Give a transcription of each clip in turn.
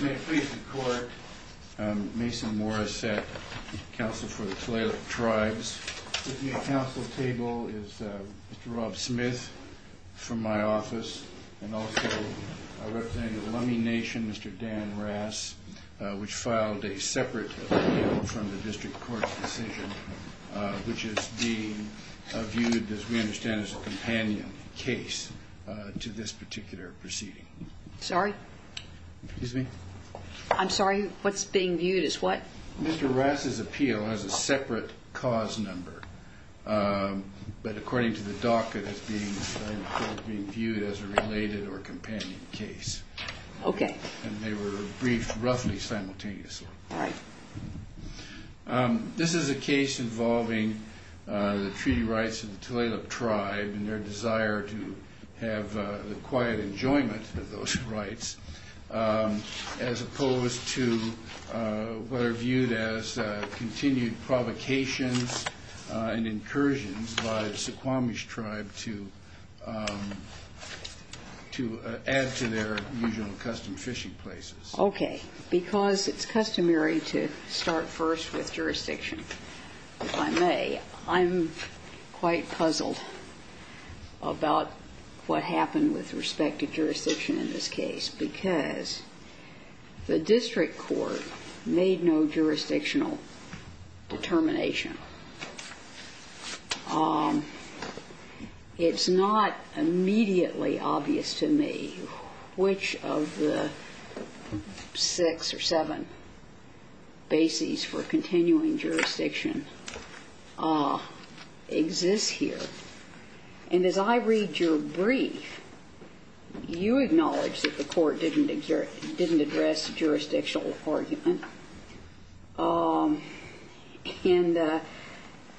May it please the Court, Mason Morissette, Counsel for the Talalip Tribes. With me at counsel's table is Mr. Rob Smith from my office and also our representative of the Lummi Nation, Mr. Dan Rass, which filed a separate appeal from the District Court's decision, which is being viewed, as we understand, as a companion case to this particular proceeding. Sorry? Excuse me? I'm sorry, what's being viewed as what? Mr. Rass's appeal has a separate cause number, but according to the docket, it's being viewed as a related or companion case. Okay. And they were briefed roughly simultaneously. All right. This is a case involving the treaty rights of the Talalip Tribe and their desire to have the quiet enjoyment of those rights, as opposed to what are viewed as continued provocations and incursions by the Suquamish Tribe to add to their usual custom fishing places. Okay. Because it's customary to start first with jurisdiction, if I may, I'm quite puzzled about what happened with respect to jurisdiction in this case, because the District Court made no jurisdictional determination. It's not immediately obvious to me which of the six or seven bases for continuing jurisdiction exists here. And as I read your brief, you acknowledge that the Court didn't address jurisdictional argument.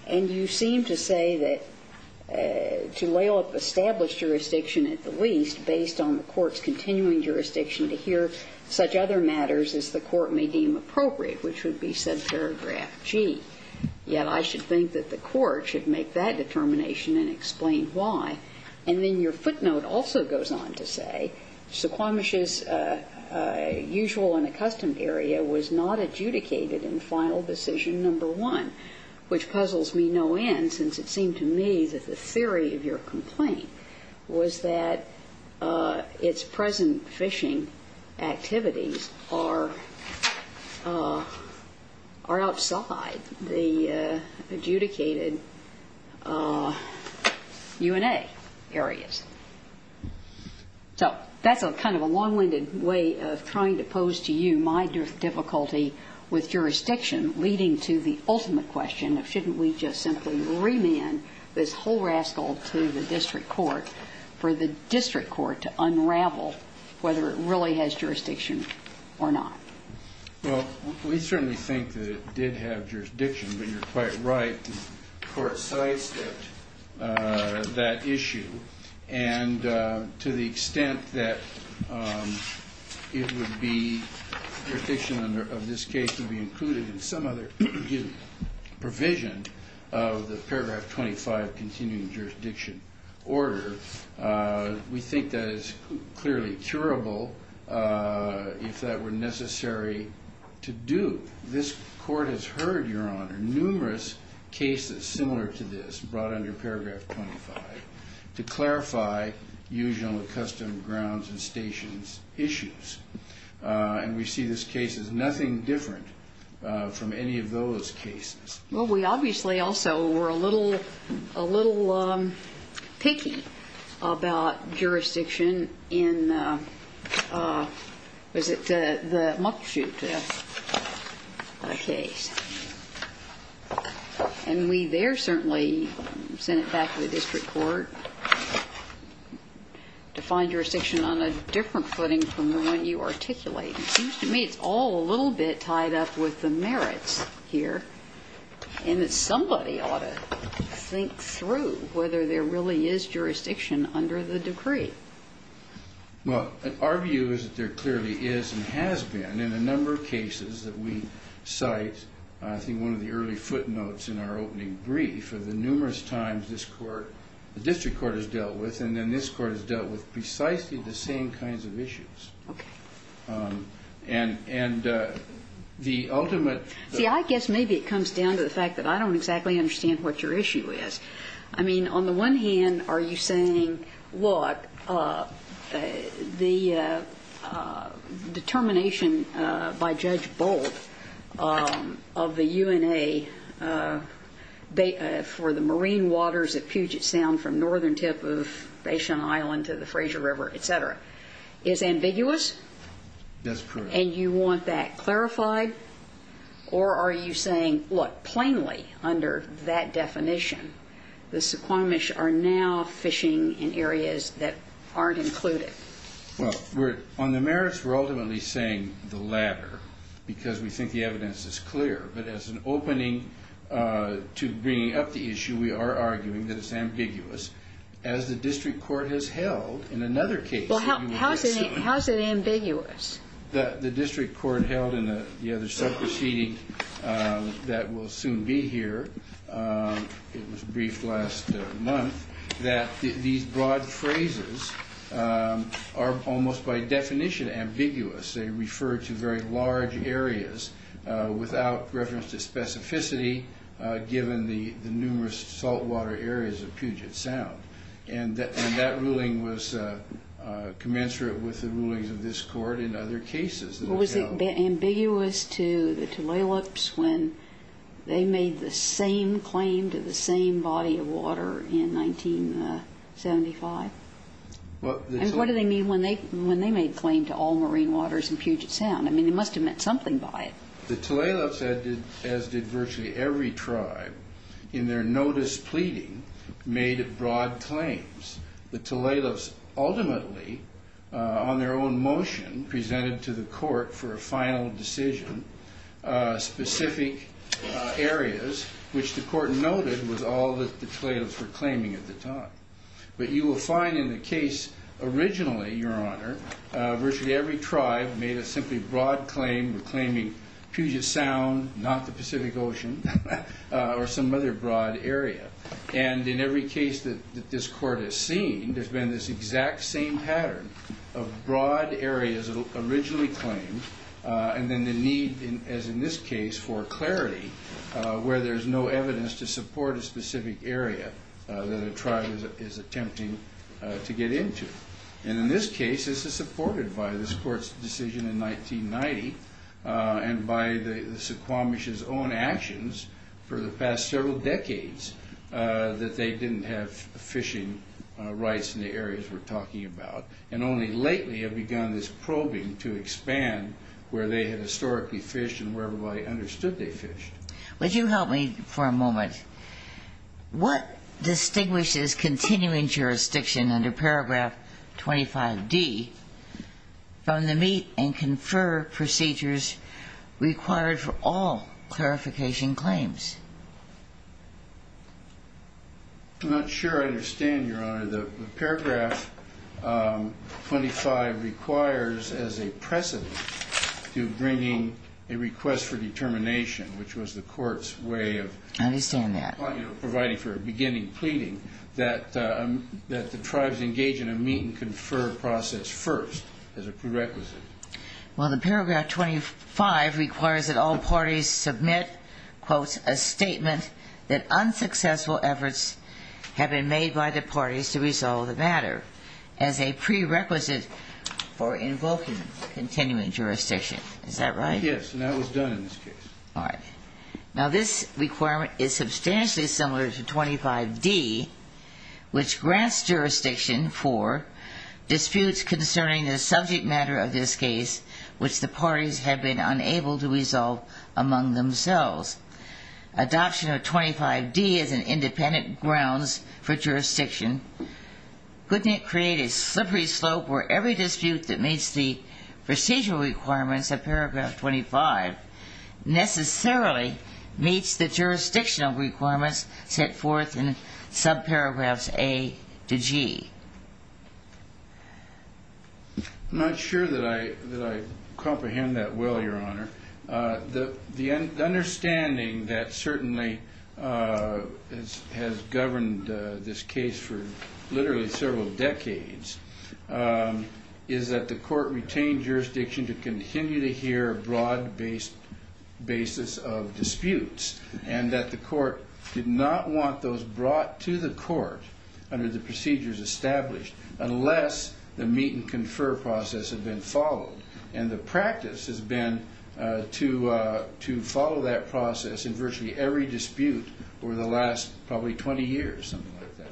And you seem to say that to lay off established jurisdiction at the least based on the Court's continuing jurisdiction to hear such other matters as the Court may deem appropriate, which would be subparagraph G. Yet I should think that the Court should make that determination and explain why. And then your footnote also goes on to say Suquamish's usual and accustomed area was not adjudicated in final decision number one, which puzzles me no end since it seemed to me that the theory of your complaint was that its present fishing activities are outside the adjudicated UNA areas. So that's a kind of a long-winded way of trying to pose to you my difficulty with jurisdiction leading to the ultimate question of shouldn't we just simply remand this whole rascal to the District Court for the District Court to unravel whether it really has jurisdiction or not. Well, we certainly think that it did have jurisdiction, but you're quite right. The Court sidestepped that issue. And to the extent that it would be jurisdiction of this case to be included in some other provision of the paragraph 25 continuing jurisdiction order, we think that is clearly curable if that were necessary to do. This Court has heard, Your Honor, numerous cases similar to this brought under paragraph 25 to clarify usual and accustomed grounds and stations issues. And we see this case as nothing different from any of those cases. Well, we obviously also were a little picky about jurisdiction in, was it the Muckleshoot case? And we there certainly sent it back to the District Court to find jurisdiction on a different footing from the one you articulate. It seems to me it's all a little bit tied up with the merits here and that somebody ought to think through whether there really is jurisdiction under the decree. Well, our view is that there clearly is and has been in a number of cases that we have heard. And I think that's what we're trying to do here, is to make sure that we're making the early footnotes in our opening brief of the numerous times this Court, the District Court has dealt with, and then this Court has dealt with precisely the same kinds of issues. Okay. And the ultimate... See, I guess maybe it comes down to the fact that I don't exactly understand what your issue is. I mean, on the UNA, for the marine waters at Puget Sound from northern tip of Basin Island to the Fraser River, et cetera, is ambiguous. That's correct. And you want that clarified? Or are you saying, look, plainly under that definition, the Suquamish are now fishing in areas that aren't included? Well, on the merits, we're ultimately saying the latter because we think the evidence is clear. But as an opening to bringing up the issue, we are arguing that it's ambiguous. As the District Court has held in another case... Well, how is it ambiguous? The District Court held in the other sub-proceeding that will soon be here, it was briefed last month, that these broad phrases are almost by definition ambiguous. They refer to very large areas without reference to specificity given the numerous saltwater areas of Puget Sound. And that ruling was commensurate with the rulings of this Court in other cases. Was it ambiguous to the Tulalips when they made the same claim to the same body of water in 1975? And what do they mean when they made claim to all marine waters in Puget Sound? I mean, they must have meant something by it. The Tulalips, as did virtually every tribe, in their notice pleading, made broad claims. The Tulalips ultimately, on their own motion presented to the Court for a final decision, specific areas, which the Court noted was all that the Tulalips were claiming at the time. But you will find in the case originally, Your Honor, virtually every tribe made a simply broad claim, claiming Puget Sound, not the Pacific Ocean, or some other broad area. And in every case that this Court has seen, there's been this exact same pattern of broad areas originally claimed, and then the need, as in this case, for clarity, where there's no evidence to support a specific area that a tribe is attempting to get into. And in this case, this is supported by this Court's decision in 1990, and by the Suquamish's own actions for the past several decades, that they didn't have fishing rights in the areas we're talking about, and only lately have begun this probing to expand where they had historically fished and where everybody understood they fished. Would you help me for a moment? What distinguishes continuing jurisdiction under paragraph 25d from the meet and confer procedures required for all clarification claims? I'm not sure I understand, Your Honor. The paragraph 25 requires, as a precedent, to bringing a request for determination, which was the Court's way of providing for a beginning pleading, that the tribes engage in a meet and confer process first as a prerequisite. Well, the paragraph 25 requires that parties submit, quote, a statement that unsuccessful efforts have been made by the parties to resolve the matter as a prerequisite for invoking continuing jurisdiction. Is that right? Yes, and that was done in this case. All right. Now, this requirement is substantially similar to 25d, which grants jurisdiction for disputes concerning the subject matter of this case, which the parties have been unable to resolve among themselves. Adoption of 25d as an independent grounds for jurisdiction couldn't create a slippery slope where every dispute that meets the procedural requirements of paragraph 25 necessarily meets the jurisdictional requirements set forth in subparagraphs a to g. I'm not sure that I comprehend that well, Your Honor. The understanding that certainly has governed this case for literally several decades is that the Court retained jurisdiction to continue to hear a broad basis of disputes, and that the Court did not want those brought to the Court under the procedures established unless the meet and confer process had been followed. And the practice has been to follow that process in virtually every dispute over the last probably 20 years, something like that.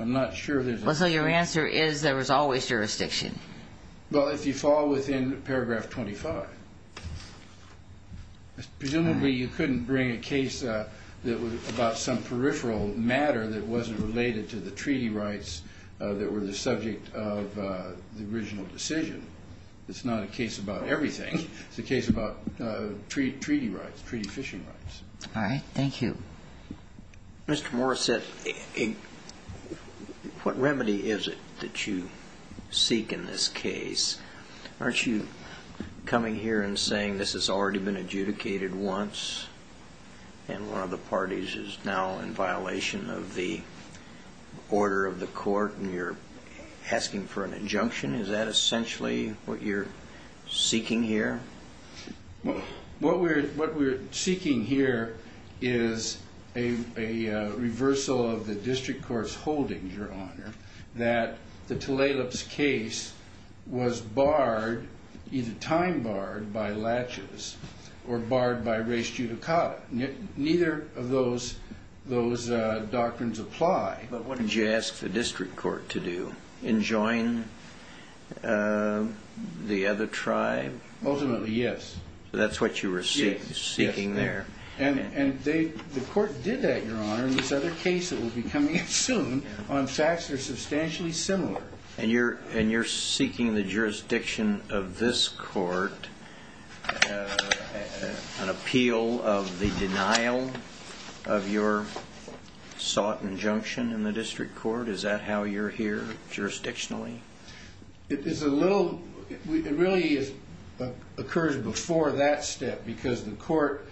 I'm not sure there's... Well, so your answer is there is always jurisdiction? Well, if you fall within paragraph 25. Presumably, you couldn't bring a case that was about some peripheral matter that wasn't related to the treaty rights that were the subject of the original decision. It's not a case about everything. It's a case about treaty rights, treaty fishing rights. All right. Thank you. Mr. Morrissette, what remedy is it that you seek in this case? Aren't you coming here and saying this has already been adjudicated once and one of the parties is now in violation of the order of the Court and you're asking for seeking here is a reversal of the District Court's holdings, Your Honor, that the Tulalip's case was barred, either time barred, by laches or barred by res judicata. Neither of those doctrines apply. But what did you ask the District Court to do? Enjoin the other tribe? Ultimately, yes. That's what you were seeking there. And the Court did that, Your Honor, in this other case that will be coming in soon on facts that are substantially similar. And you're seeking the jurisdiction of this Court, an appeal of the denial of your sought injunction in the District Court. Is that how you're here jurisdictionally? It's a little... It really occurs before that step because the Court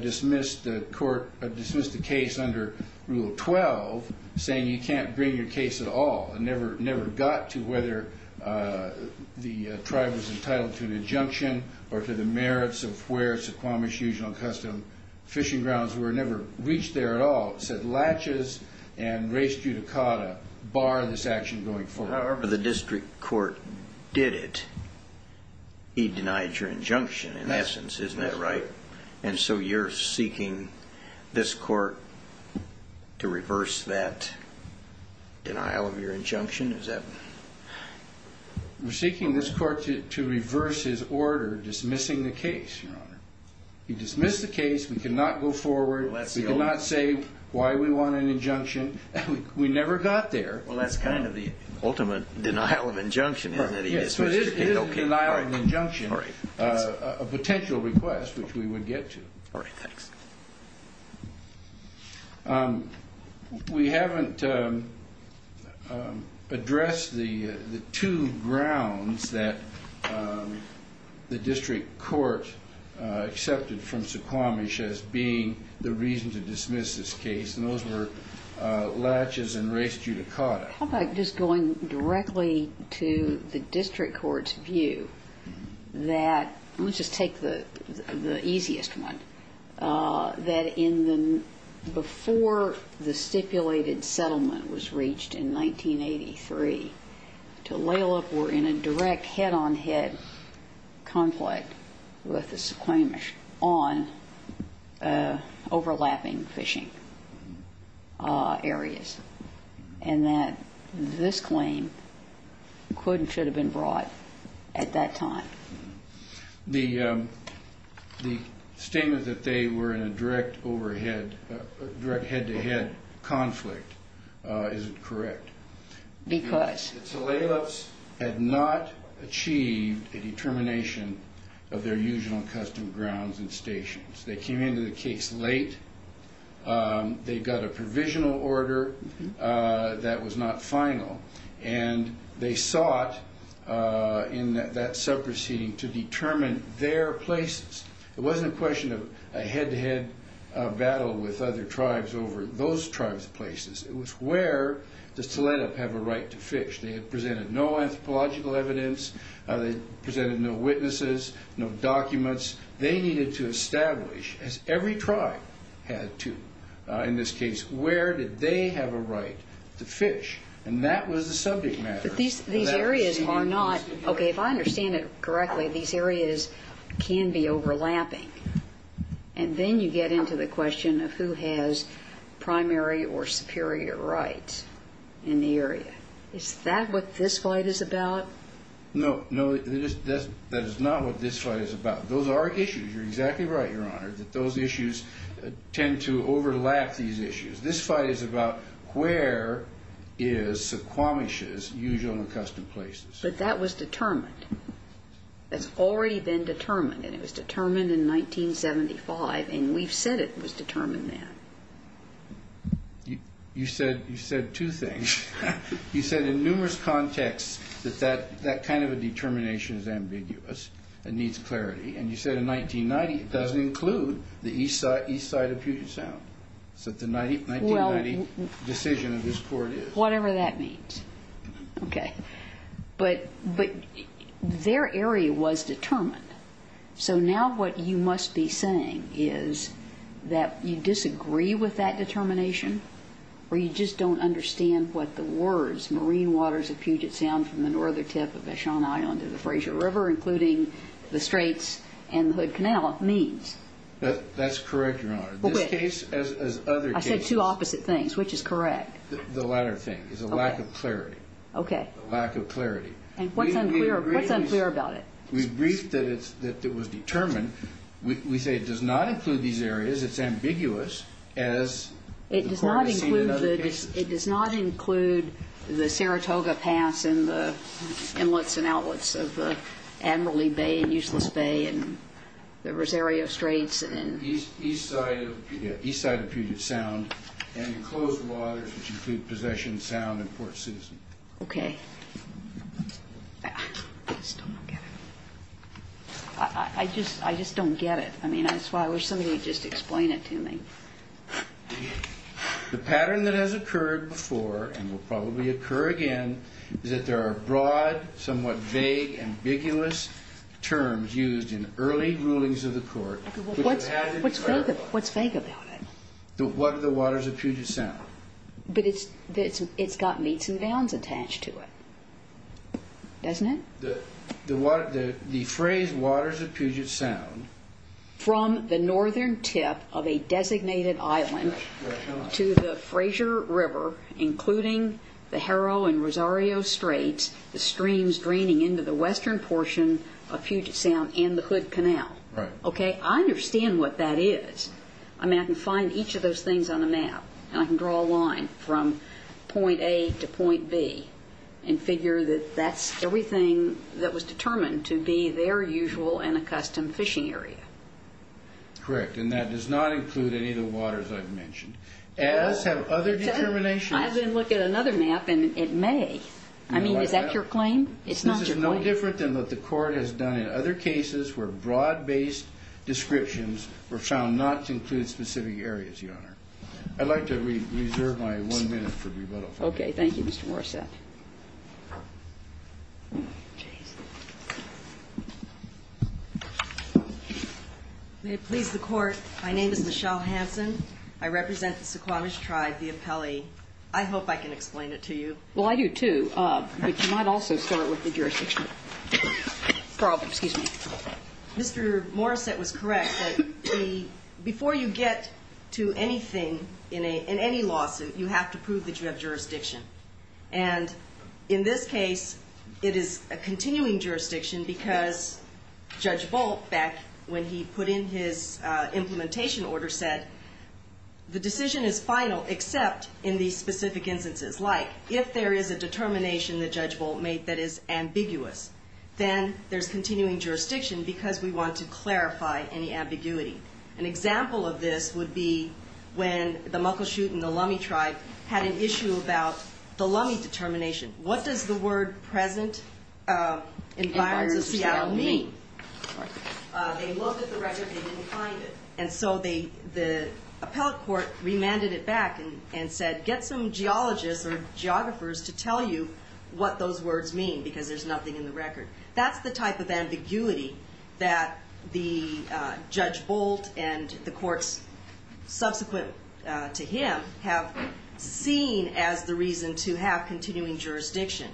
dismissed the case under Rule 12 saying you can't bring your case at all. It never got to whether the tribe was entitled to an injunction or to the merits of where Suquamish Usual and Custom fishing grounds were. It never reached there at all. It said laches and res judicata bar this action going forward. However, the District Court did it. He denied your injunction, in essence. Isn't that right? And so you're seeking this Court to reverse that denial of your injunction? Is that... We're seeking this Court to reverse his order dismissing the case, Your Honor. He dismissed the case. We cannot go forward. We cannot say why we want an injunction. We never got there. Well, that's kind of the ultimate denial of injunction, isn't it? So it is a denial of injunction, a potential request which we would get to. All right, thanks. We haven't addressed the two grounds that the District Court accepted from Suquamish as being the reason to dismiss this case, and those were laches and res judicata. How about just going directly to the District Court's view that... Let's just take the easiest one. That before the stipulated settlement was reached in 1983, Tulalip were in a direct head-on-head conflict with the Suquamish on overlapping fishing areas, and that this claim could and should have been brought at that time. The statement that they were in a direct overhead, direct head-to-head conflict, is it correct? Because? The Tulalips had not achieved a determination of their usual and custom grounds and stations. They came into the case late. They got a provisional order that was not final, and they sought in that sub-proceeding to determine their places. It wasn't a question of a head-to-head battle with other tribes over those tribes' places. It was where does Tulalip have a right to fish? They had presented no anthropological evidence. They presented no witnesses, no documents. They needed to establish, as every tribe had to in this case, where did they have a right to fish, and that was the subject matter. But these areas are not... Okay, if I understand it correctly, these areas can be overlapping, and then you get into the question of who has primary or superior rights in the area. Is that what this fight is about? No, no, that is not what this fight is about. Those are issues. You're exactly right, Your Honor, that those issues tend to overlap these issues. This fight is about where is Suquamish's usual and custom places. But that was determined. It's already been determined, and it was determined in 1975, and we've said it was determined then. You said two things. You said in numerous contexts that that kind of a determination is ambiguous and needs clarity, and you said in 1990 it doesn't include the east side of Puget Sound. So the 1990 decision of this court is... Whatever that means. Okay. But their area was determined. So now what you must be saying is that you disagree with that determination, or you just don't understand what the words marine waters of Puget Sound from the northern tip of Eshon Island to the Frayser River, including the Straits and the Hood Canal, means. That's correct, Your Honor. This case, as other cases... I said two opposite things. Which is correct? The latter thing is a lack of clarity. Okay. Lack of clarity. And what's unclear about it? We've briefed that it was determined. We say it does not include these areas. It's ambiguous, as the court has seen in other cases. It does not include the Saratoga Pass and the inlets and outlets of the Admiralty Bay and Useless Bay and the Rosario Straits and... East side of Puget Sound and enclosed waters, which include Possession Sound and Port Citizen. Okay. I just don't get it. I mean, that's why I wish somebody would just explain it to me. The pattern that has occurred before, and will probably occur again, is that there are broad, somewhat vague, ambiguous terms used in early rulings of the court... What's vague about it? What are the waters of Puget Sound? But it's got meets and bounds attached to it. Doesn't it? The phrase waters of Puget Sound... From the northern tip of a designated island to the Fraser River, including the Harrow and Rosario Straits, the streams draining into the western portion of Puget Sound and the Hood Canal. Right. Okay. I understand what that is. I mean, I can find each of those things on a map, and I can draw a line from point A to point B and figure that that's everything that was determined to be their usual and accustomed fishing area. Correct. And that does not include any of the waters I've mentioned, as have other determinations... I've been looking at another map, and it may. I mean, is that your claim? It's not your claim. This is no different than what the court has done in other cases where broad-based descriptions were found not to include specific areas, Your Honor. I'd like to reserve my one minute for rebuttal. Okay. Thank you, Mr. Morrissette. May it please the Court, my name is Michelle Hansen. I represent the Suquamish tribe, the Apelli. I hope I can explain it to you. Well, I do too, but you might also start with the jurisdiction. Mr. Morrissette was correct that before you get to anything in any lawsuit, you have to prove that you have jurisdiction. And in this case, it is a continuing jurisdiction because Judge Bolt, back when he put in his implementation order, said the decision is final except in these specific instances, like if there is a determination that Judge Bolt made that is ambiguous, then there's continuing jurisdiction because we want to clarify any ambiguity. An example of this would be when the Muckleshoot and the Lummi tribe had an issue about the Lummi determination. What does the word present environs of Seattle mean? They looked at the record. They didn't find it. And so the appellate court remanded it back and said, get some geologists or geographers to tell you what those words mean because there's nothing in the record. That's the type of ambiguity that Judge Bolt and the courts subsequent to him have seen as the reason to have continuing jurisdiction.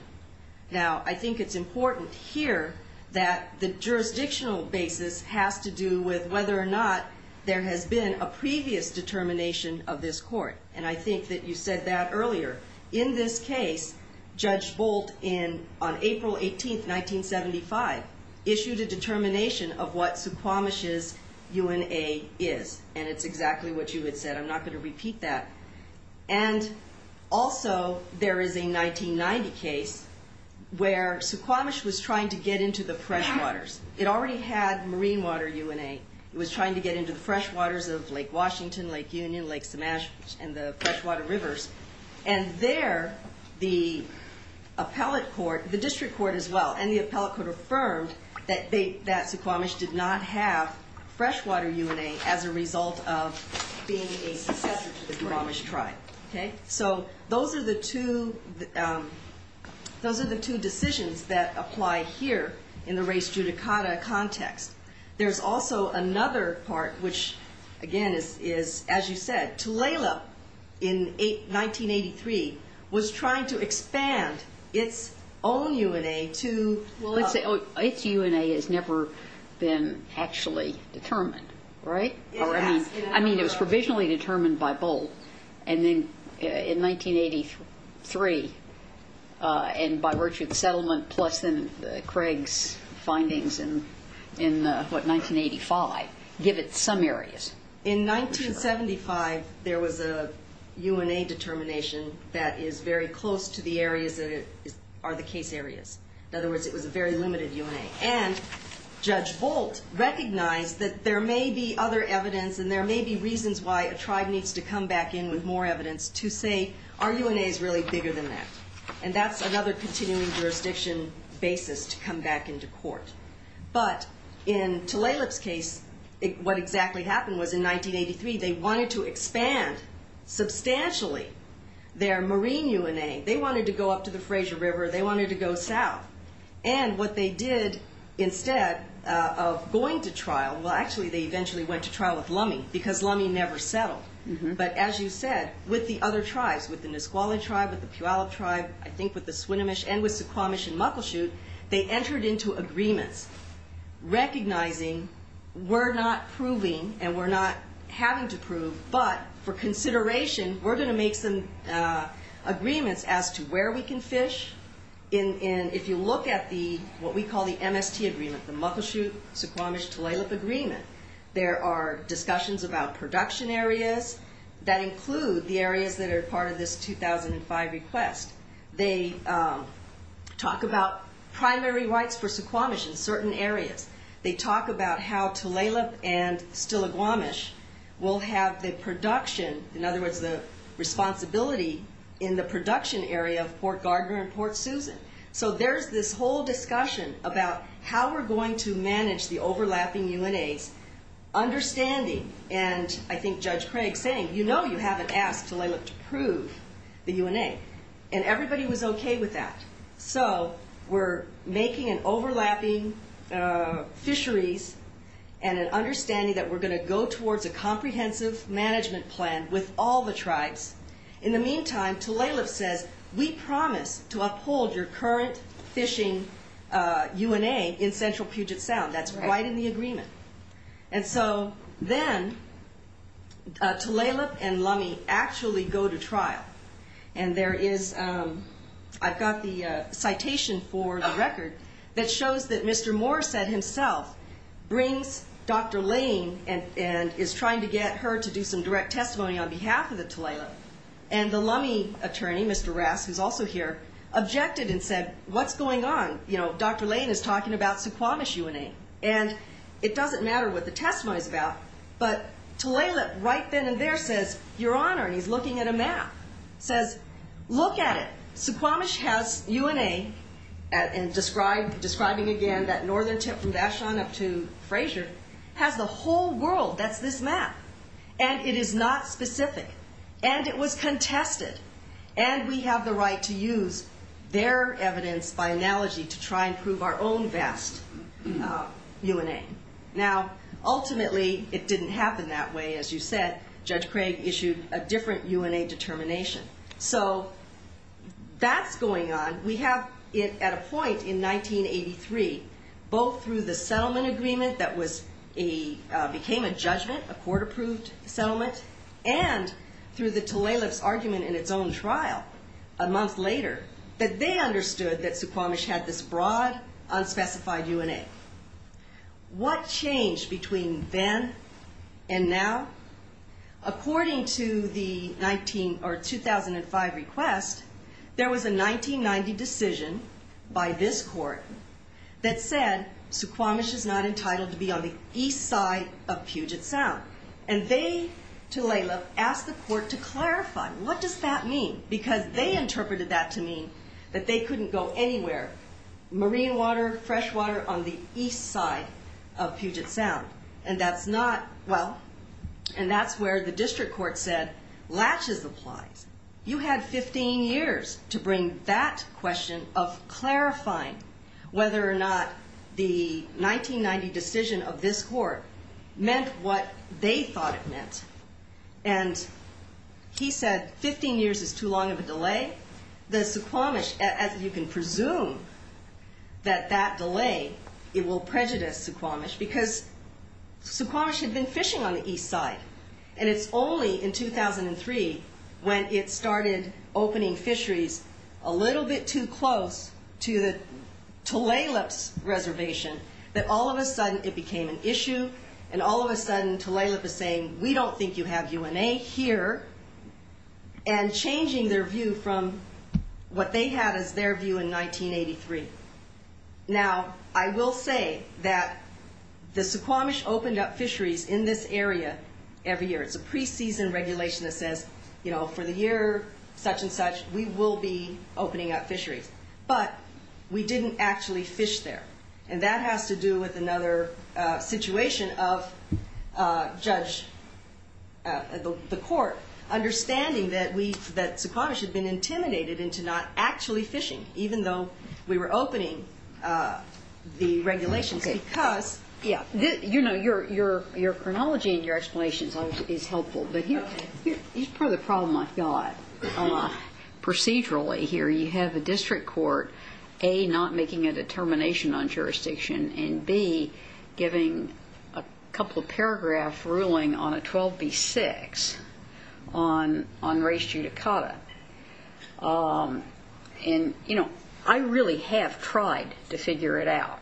Now, I think it's important here that the jurisdictional basis has to do with whether or not there has been a previous determination of this court. And I think that you said that earlier. In this case, Judge Bolt, on April 18, 1975, issued a determination of what Suquamish's UNA is. And it's exactly what you had said. I'm not going to repeat that. And also, there is a 1990 case where Suquamish was trying to get into the fresh waters. It already had marine water UNA. It was trying to get into the fresh waters of Lake Mash and the freshwater rivers. And there, the district court as well and the appellate court affirmed that Suquamish did not have freshwater UNA as a result of being a successor to the Suquamish tribe. So those are the two decisions that apply here in the race judicata context. There's also another part which, again, is, as you said, Tulalip in 1983 was trying to expand its own UNA to... Well, its UNA has never been actually determined, right? I mean, it was provisionally determined by Bolt. And then in 1983, and by virtue of the settlement, plus Craig's findings in, what, 1985, give it some areas. In 1975, there was a UNA determination that is very close to the areas that are the case areas. In other words, it was a very limited UNA. And Judge Bolt recognized that there may be other evidence and there may be reasons why a tribe needs to come back in with more evidence to say, our UNA is really bigger than that. And that's another continuing jurisdiction basis to come back into court. But in Tulalip's case, what exactly happened was in 1983, they wanted to expand substantially their marine UNA. They wanted to go up to the Fraser River. They wanted to go south. And what they did instead of going to trial, well, actually, they eventually went to trial with Lummi because Lummi never settled. But as you said, with the other tribes, with the Nisqually tribe, with the Puyallup tribe, I think with the Swinomish and with Suquamish and Muckleshoot, they entered into agreements recognizing we're not proving and we're not having to prove, but for consideration, we're going to make some agreements as to where we can fish. And if you look at what we call the MST agreement, the Muckleshoot-Suquamish-Tulalip agreement, there are discussions about production areas that include the areas that are part of this 2005 request. They talk about primary rights for Suquamish in certain areas. They talk about how Tulalip and Stillaguamish will have the production, in other words, the responsibility in the production area of Port Gardner and Port Susan. So there's this whole discussion about how we're going to manage the overlapping UNAs, understanding, and I think Judge Craig saying, you know you haven't asked Tulalip to prove the UNA. And everybody was okay with that. So we're making an overlapping fisheries and an understanding that we're going to go towards a comprehensive management plan with all the tribes. In the meantime, Tulalip says, we promise to uphold your current fishing UNA in Central Puget Sound. That's right in the agreement. And so then Tulalip and Lummi actually go to trial. And there is, I've got the citation for the record that shows that Mr. Morissette himself brings Dr. Lane and is trying to get her to do some direct testimony on behalf of the Tulalip. And the Lummi attorney, Mr. Rass, who's also here, objected and said, what's going on? You know, Dr. Lane is talking about Suquamish UNA. And it doesn't matter what the testimony is about. But Tulalip right then and there says, your honor, and he's looking at a map, says, look at it. Suquamish has UNA, and describing again that northern tip from Vashon up to Fraser, has the whole world that's this map. And it is not specific. And it was contested. And we have the right to use their evidence by analogy to try and prove our own vast UNA. Now, ultimately, it didn't happen that way. As you said, Judge Craig issued a different UNA determination. So that's going on. We have it at a point in 1983, both through the settlement agreement that became a judgment, a court approved settlement, and through the Tulalip's in its own trial, a month later, that they understood that Suquamish had this broad, unspecified UNA. What changed between then and now? According to the 19 or 2005 request, there was a 1990 decision by this court that said Suquamish is not entitled to be on the east side of Puget Sound. And they, Tulalip, asked the court to clarify, what does that mean? Because they interpreted that to mean that they couldn't go anywhere, marine water, fresh water on the east side of Puget Sound. And that's not, well, and that's where the district court said, latches applies. You had 15 years to bring that question of clarifying whether or not the 1990 decision of this court meant what they thought it meant. And he said 15 years is too long of a delay. The Suquamish, as you can presume that that delay, it will prejudice Suquamish because Suquamish had been fishing on the east side. And it's only in 2003 when it started opening fisheries a little bit too close to Tulalip's reservation that all of a sudden it became an issue. And all of a sudden Tulalip is saying, we don't think you have UNA here. And changing their view from what they had as their view in 1983. Now, I will say that the Suquamish opened up fisheries in this area every year. It's a pre-season regulation that for the year such and such, we will be opening up fisheries. But we didn't actually fish there. And that has to do with another situation of the court understanding that Suquamish had been intimidated into not actually fishing, even though we were opening the regulations. Yeah. Your chronology and your explanation is helpful. But here's part of the problem I've got procedurally here. You have a district court, A, not making a determination on jurisdiction, and B, giving a couple of paragraph ruling on a 12B6 on race judicata. And, you know, I really have tried to figure it out.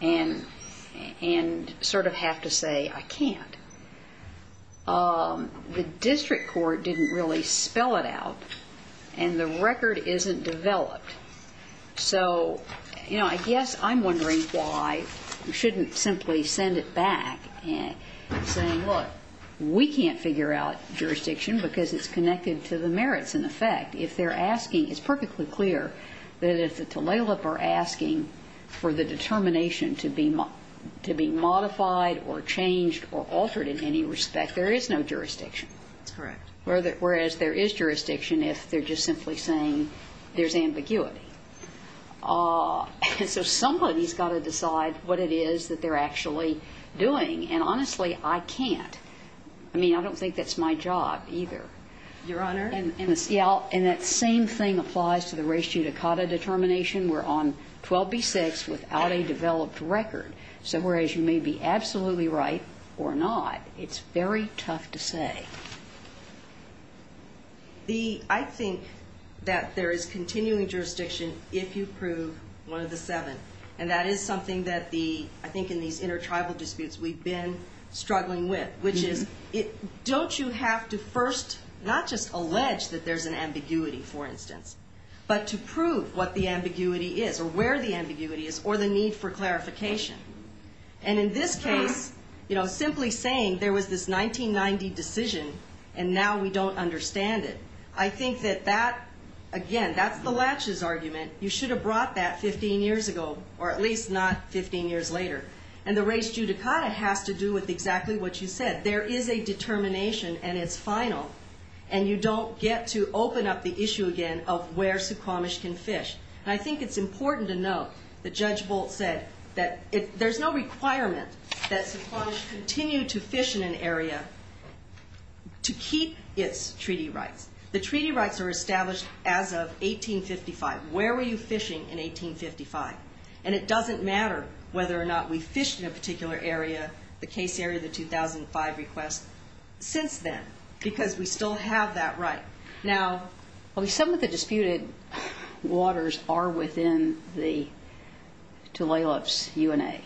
And sort of have to say I can't. The district court didn't really spell it out. And the record isn't developed. So, you know, I guess I'm wondering why we shouldn't simply send it back saying, look, we can't figure out jurisdiction because it's connected to the merits in effect. If they're asking, it's perfectly clear that if the Tlalip are asking for the determination to be modified or changed or altered in any respect, there is no jurisdiction. That's correct. Whereas there is jurisdiction if they're just simply saying there's ambiguity. So somebody's got to decide what it is that they're actually doing. And honestly, I can't. I mean, I don't think that's my job either. Your Honor? And that same thing applies to the race judicata determination. We're on 12B6 without a developed record. So whereas you may be absolutely right or not, it's very tough to say. I think that there is continuing jurisdiction if you prove one of the seven. And that is something I think in these intertribal disputes we've been struggling with, which is, don't you have to first not just allege that there's an ambiguity, for instance, but to prove what the ambiguity is or where the ambiguity is or the need for clarification. And in this case, you know, simply saying there was this 1990 decision and now we don't understand it. I think that that, again, that's the latches argument. You should have brought that 15 years ago or at least not 15 years later. And the race judicata has to do with exactly what you said. There is a determination and it's final. And you don't get to open up the issue again of where Suquamish can fish. And I think it's important to note that Judge Bolt said that there's no requirement that Suquamish continue to fish in an area to keep its treaty rights. The treaty rights are established as of 1855. Where were you fishing in 1855? And it doesn't matter whether or not we fished in a particular area, the case area, the 2005 request, since then, because we still have that right. Now... Well, some of the disputed waters are within the Tulalip's UNA.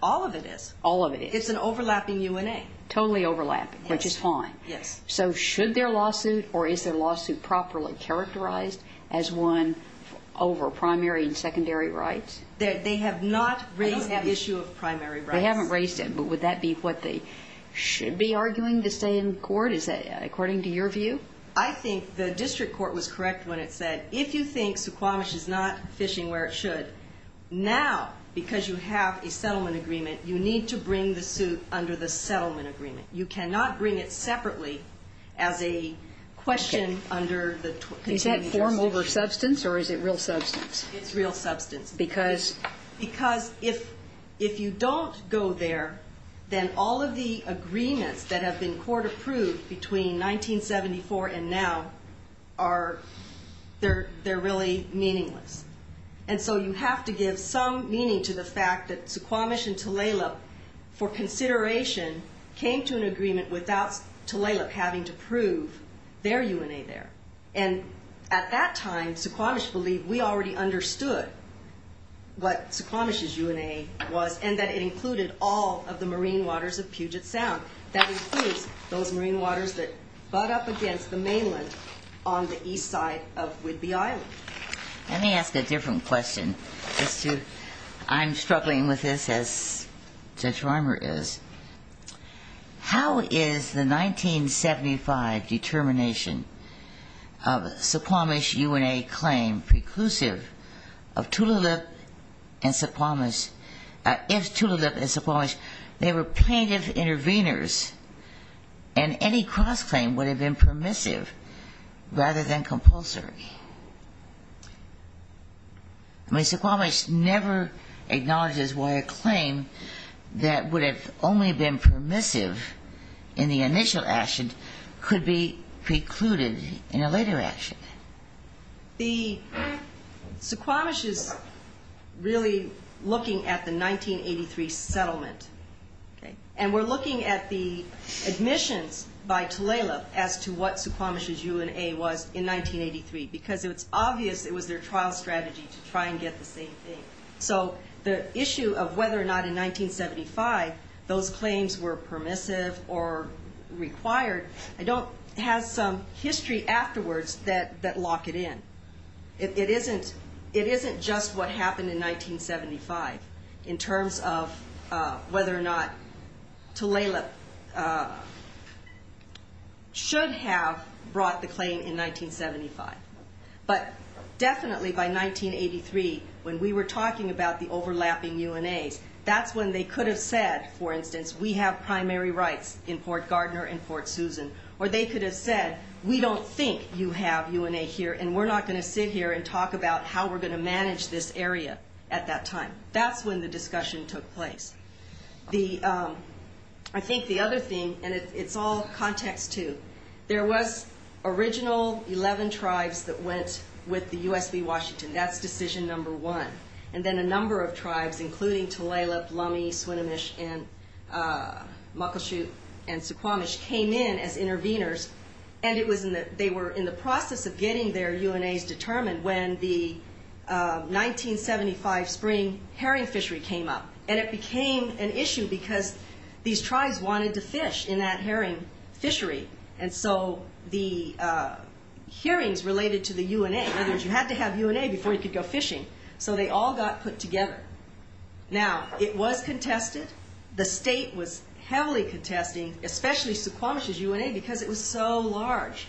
All of it is. All of it is. It's an overlapping UNA. Totally overlapping, which is fine. Yes. So should their lawsuit or is their lawsuit properly characterized as one over primary and secondary rights? They have not raised that issue of primary rights. They haven't raised it, but would that be what they should be arguing to say in court? Is that according to your view? I think the district court was correct when it said, if you think Suquamish is not fishing where it should, now, because you have a settlement agreement, you need to bring the suit under the as a question under the... Is that form over substance or is it real substance? It's real substance because if you don't go there, then all of the agreements that have been court approved between 1974 and now, they're really meaningless. And so you have to give some meaning to the fact that Suquamish and Tulalip, for consideration, came to an agreement without Tulalip having to prove their UNA there. And at that time, Suquamish believed we already understood what Suquamish's UNA was and that it included all of the marine waters of Puget Sound. That includes those marine waters that butt up against the mainland on the east side of Whidbey Island. Let me ask a different question as to... I'm struggling with this as Judge Rimer is. How is the 1975 determination of Suquamish's UNA claim preclusive of Tulalip and Suquamish? If Tulalip and Suquamish, they were plaintiff intervenors and any cross-claim would have been permissive rather than compulsory. I mean, Suquamish never acknowledges why a claim that would have only been permissive in the initial action could be precluded in a later action. The Suquamish is really looking at the 1983 settlement, okay? And we're looking at the admissions by Tulalip as to what Suquamish's UNA was in 1983, because it's obvious it was their trial strategy to try and get the same thing. So the issue of whether or not in 1975 those claims were permissive or required has some history afterwards that lock it in. It isn't just what happened in 1975 in terms of whether or not Tulalip should have brought the claim in 1975. But definitely by 1983 when we were talking about the overlapping UNAs, that's when they could have said, for instance, we have primary rights in Port Gardner and Port Susan, or they could have said, we don't think you have UNA here and we're not going to sit here and talk about how we're going to manage this area at that time. That's when the other thing, and it's all context too, there was original 11 tribes that went with the USB Washington. That's decision number one. And then a number of tribes, including Tulalip, Lummi, Swinomish, and Muckleshoot, and Suquamish came in as intervenors, and they were in the process of getting their UNAs determined when the 1975 spring herring fishery came up. And it became an issue because these tribes wanted to fish in that herring fishery. And so the hearings related to the UNA, in other words, you had to have UNA before you could go fishing. So they all got put together. Now it was contested. The state was heavily contesting, especially Suquamish's UNA because it was so large.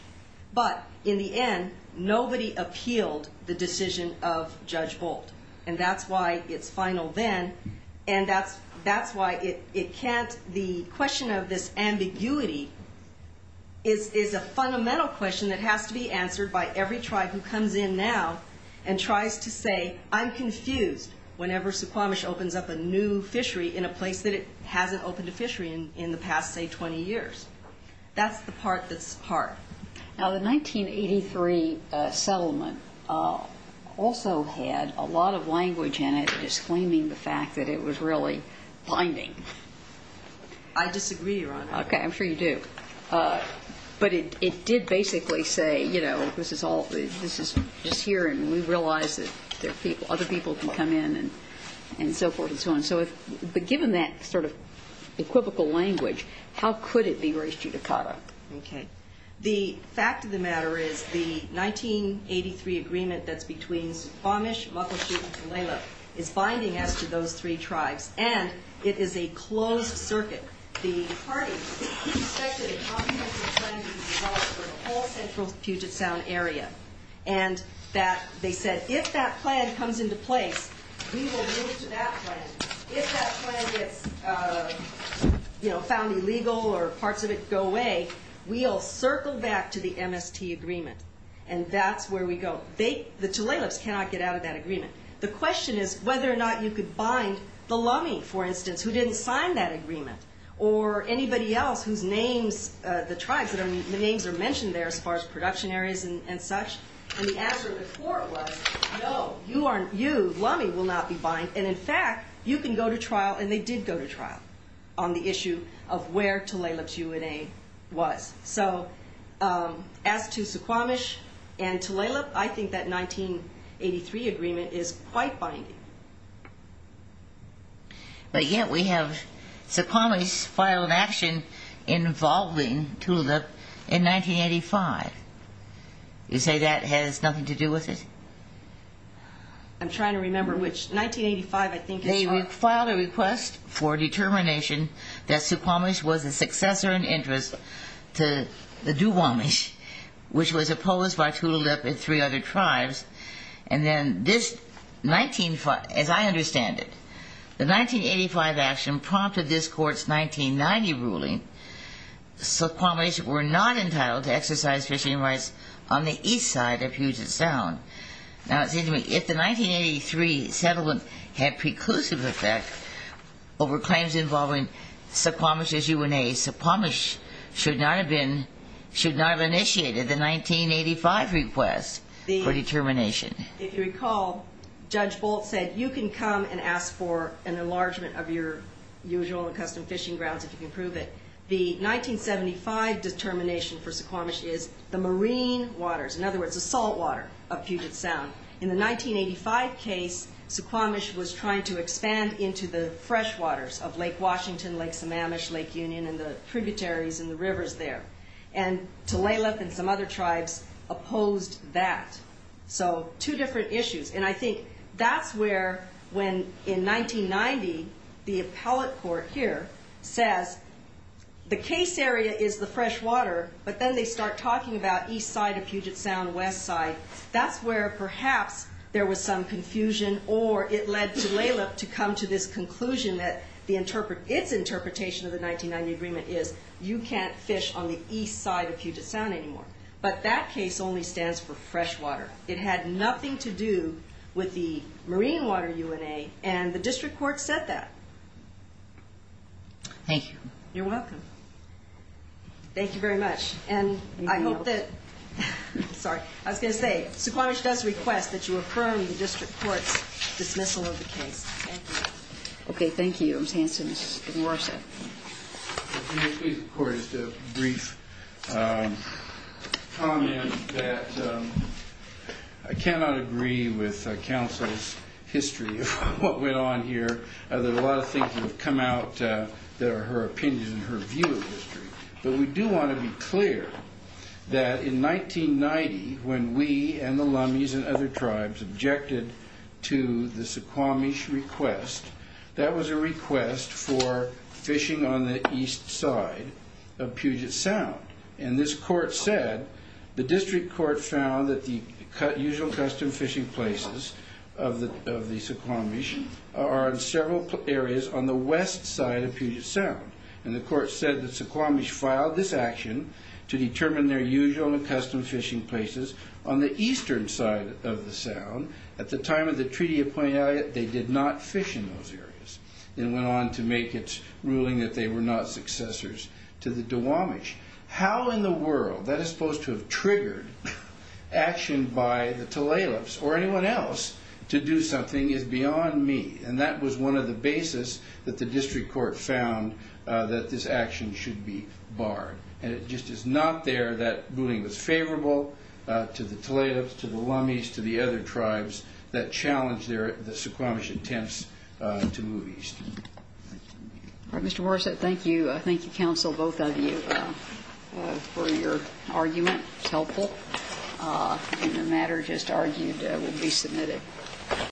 But in the end, nobody appealed the decision of Judge Bolt. And that's why it's final then. And that's why it can't, the question of this ambiguity is a fundamental question that has to be answered by every tribe who comes in now and tries to say, I'm confused whenever Suquamish opens up a new fishery in a place that it hasn't opened a fishery in the past, say, 20 years. That's the part that's hard. Now the 1983 settlement also had a lot of language disclaiming the fact that it was really binding. I disagree, Your Honor. Okay, I'm sure you do. But it did basically say, you know, this is all, this is just here and we realize that there are people, other people can come in and so forth and so on. So if, but given that sort of equivocal language, how could it be raised judicata? Okay. The fact of the matter is the 1983 agreement that's between Suquamish, Muckleshoot, and Tulalip is binding as to those three tribes. And it is a closed circuit. The party expected a comprehensive plan to be developed for the whole central Puget Sound area. And that they said, if that plan comes into place, we will move to that plan. If that plan gets, you know, found illegal or parts of it go away, we'll circle back to the MST agreement. And that's where we go. They, the Tulalips cannot get out of that agreement. The question is whether or not you could bind the Lummi, for instance, who didn't sign that agreement or anybody else whose names, the tribes that are, the names are mentioned there as far as production areas and such. And the answer of the court was, no, you aren't, you, Lummi will not be bind. And in fact, you can go to trial and they did go to trial on the issue of where Tulalip's UNA was. So as to Suquamish and Tulalip, I think that 1983 agreement is quite binding. But yet we have, Suquamish filed an action involving Tulalip in 1985. You say that has nothing to do with it? I'm trying to remember which, 1985, I think. They filed a request for determination that Suquamish was a successor in interest to the Duwamish, which was opposed by Tulalip and three other tribes. And then this 19, as I understand it, the 1985 action prompted this court's 1990 ruling. Suquamish were not entitled to exercise fishing rights on the east side of Puget Sound. Now it seems to me if the 1983 settlement had reclusive effect over claims involving Suquamish's UNA, Suquamish should not have been, should not have initiated the 1985 request for determination. If you recall, Judge Bolt said, you can come and ask for an enlargement of your usual and custom fishing grounds if you can prove it. The 1975 determination for Suquamish is the marine waters, in other words, the salt water of Puget Sound. In the 1985 case, Suquamish was trying to expand into the fresh waters of Lake Washington, Lake Sammamish, Lake Union, and the tributaries and the rivers there. And Tulalip and some other tribes opposed that. So two different issues. And I think that's where when in 1990 the appellate court here says the case area is the fresh water, but then they start talking about east side of Puget Sound, west side, that's where perhaps there was some confusion or it led Tulalip to come to this conclusion that the interpret, its interpretation of the 1990 agreement is you can't fish on the east side of Puget Sound anymore. But that case only stands for fresh water. It had nothing to do with the marine water UNA and the district court said that. Thank you. You're welcome. Thank you very much. And I hope that, I'm sorry, I was going to say Suquamish does request that you affirm the district court's dismissal of the case. Thank you. Okay, thank you. I'm saying to Ms. Worseth. Can you please record just a brief comment that I cannot agree with counsel's history of what went on here. There's a lot of come out that are her opinions and her view of history. But we do want to be clear that in 1990 when we and the Lummies and other tribes objected to the Suquamish request, that was a request for fishing on the east side of Puget Sound. And this court said the district court found that the west side of Puget Sound. And the court said that Suquamish filed this action to determine their usual and custom fishing places on the eastern side of the sound. At the time of the treaty of Point Elliott, they did not fish in those areas. Then went on to make its ruling that they were not successors to the Duwamish. How in the world that is supposed to have triggered action by the Tulalips or anyone else to do something is beyond me. And that was one of the basis that the district court found that this action should be barred. And it just is not there that ruling was favorable to the Tulalips, to the Lummies, to the other tribes that challenged the Suquamish attempts to move east. Mr. Worseth, thank you. Thank you, counsel, both of you for your argument. It's helpful. And the matter just argued will be submitted.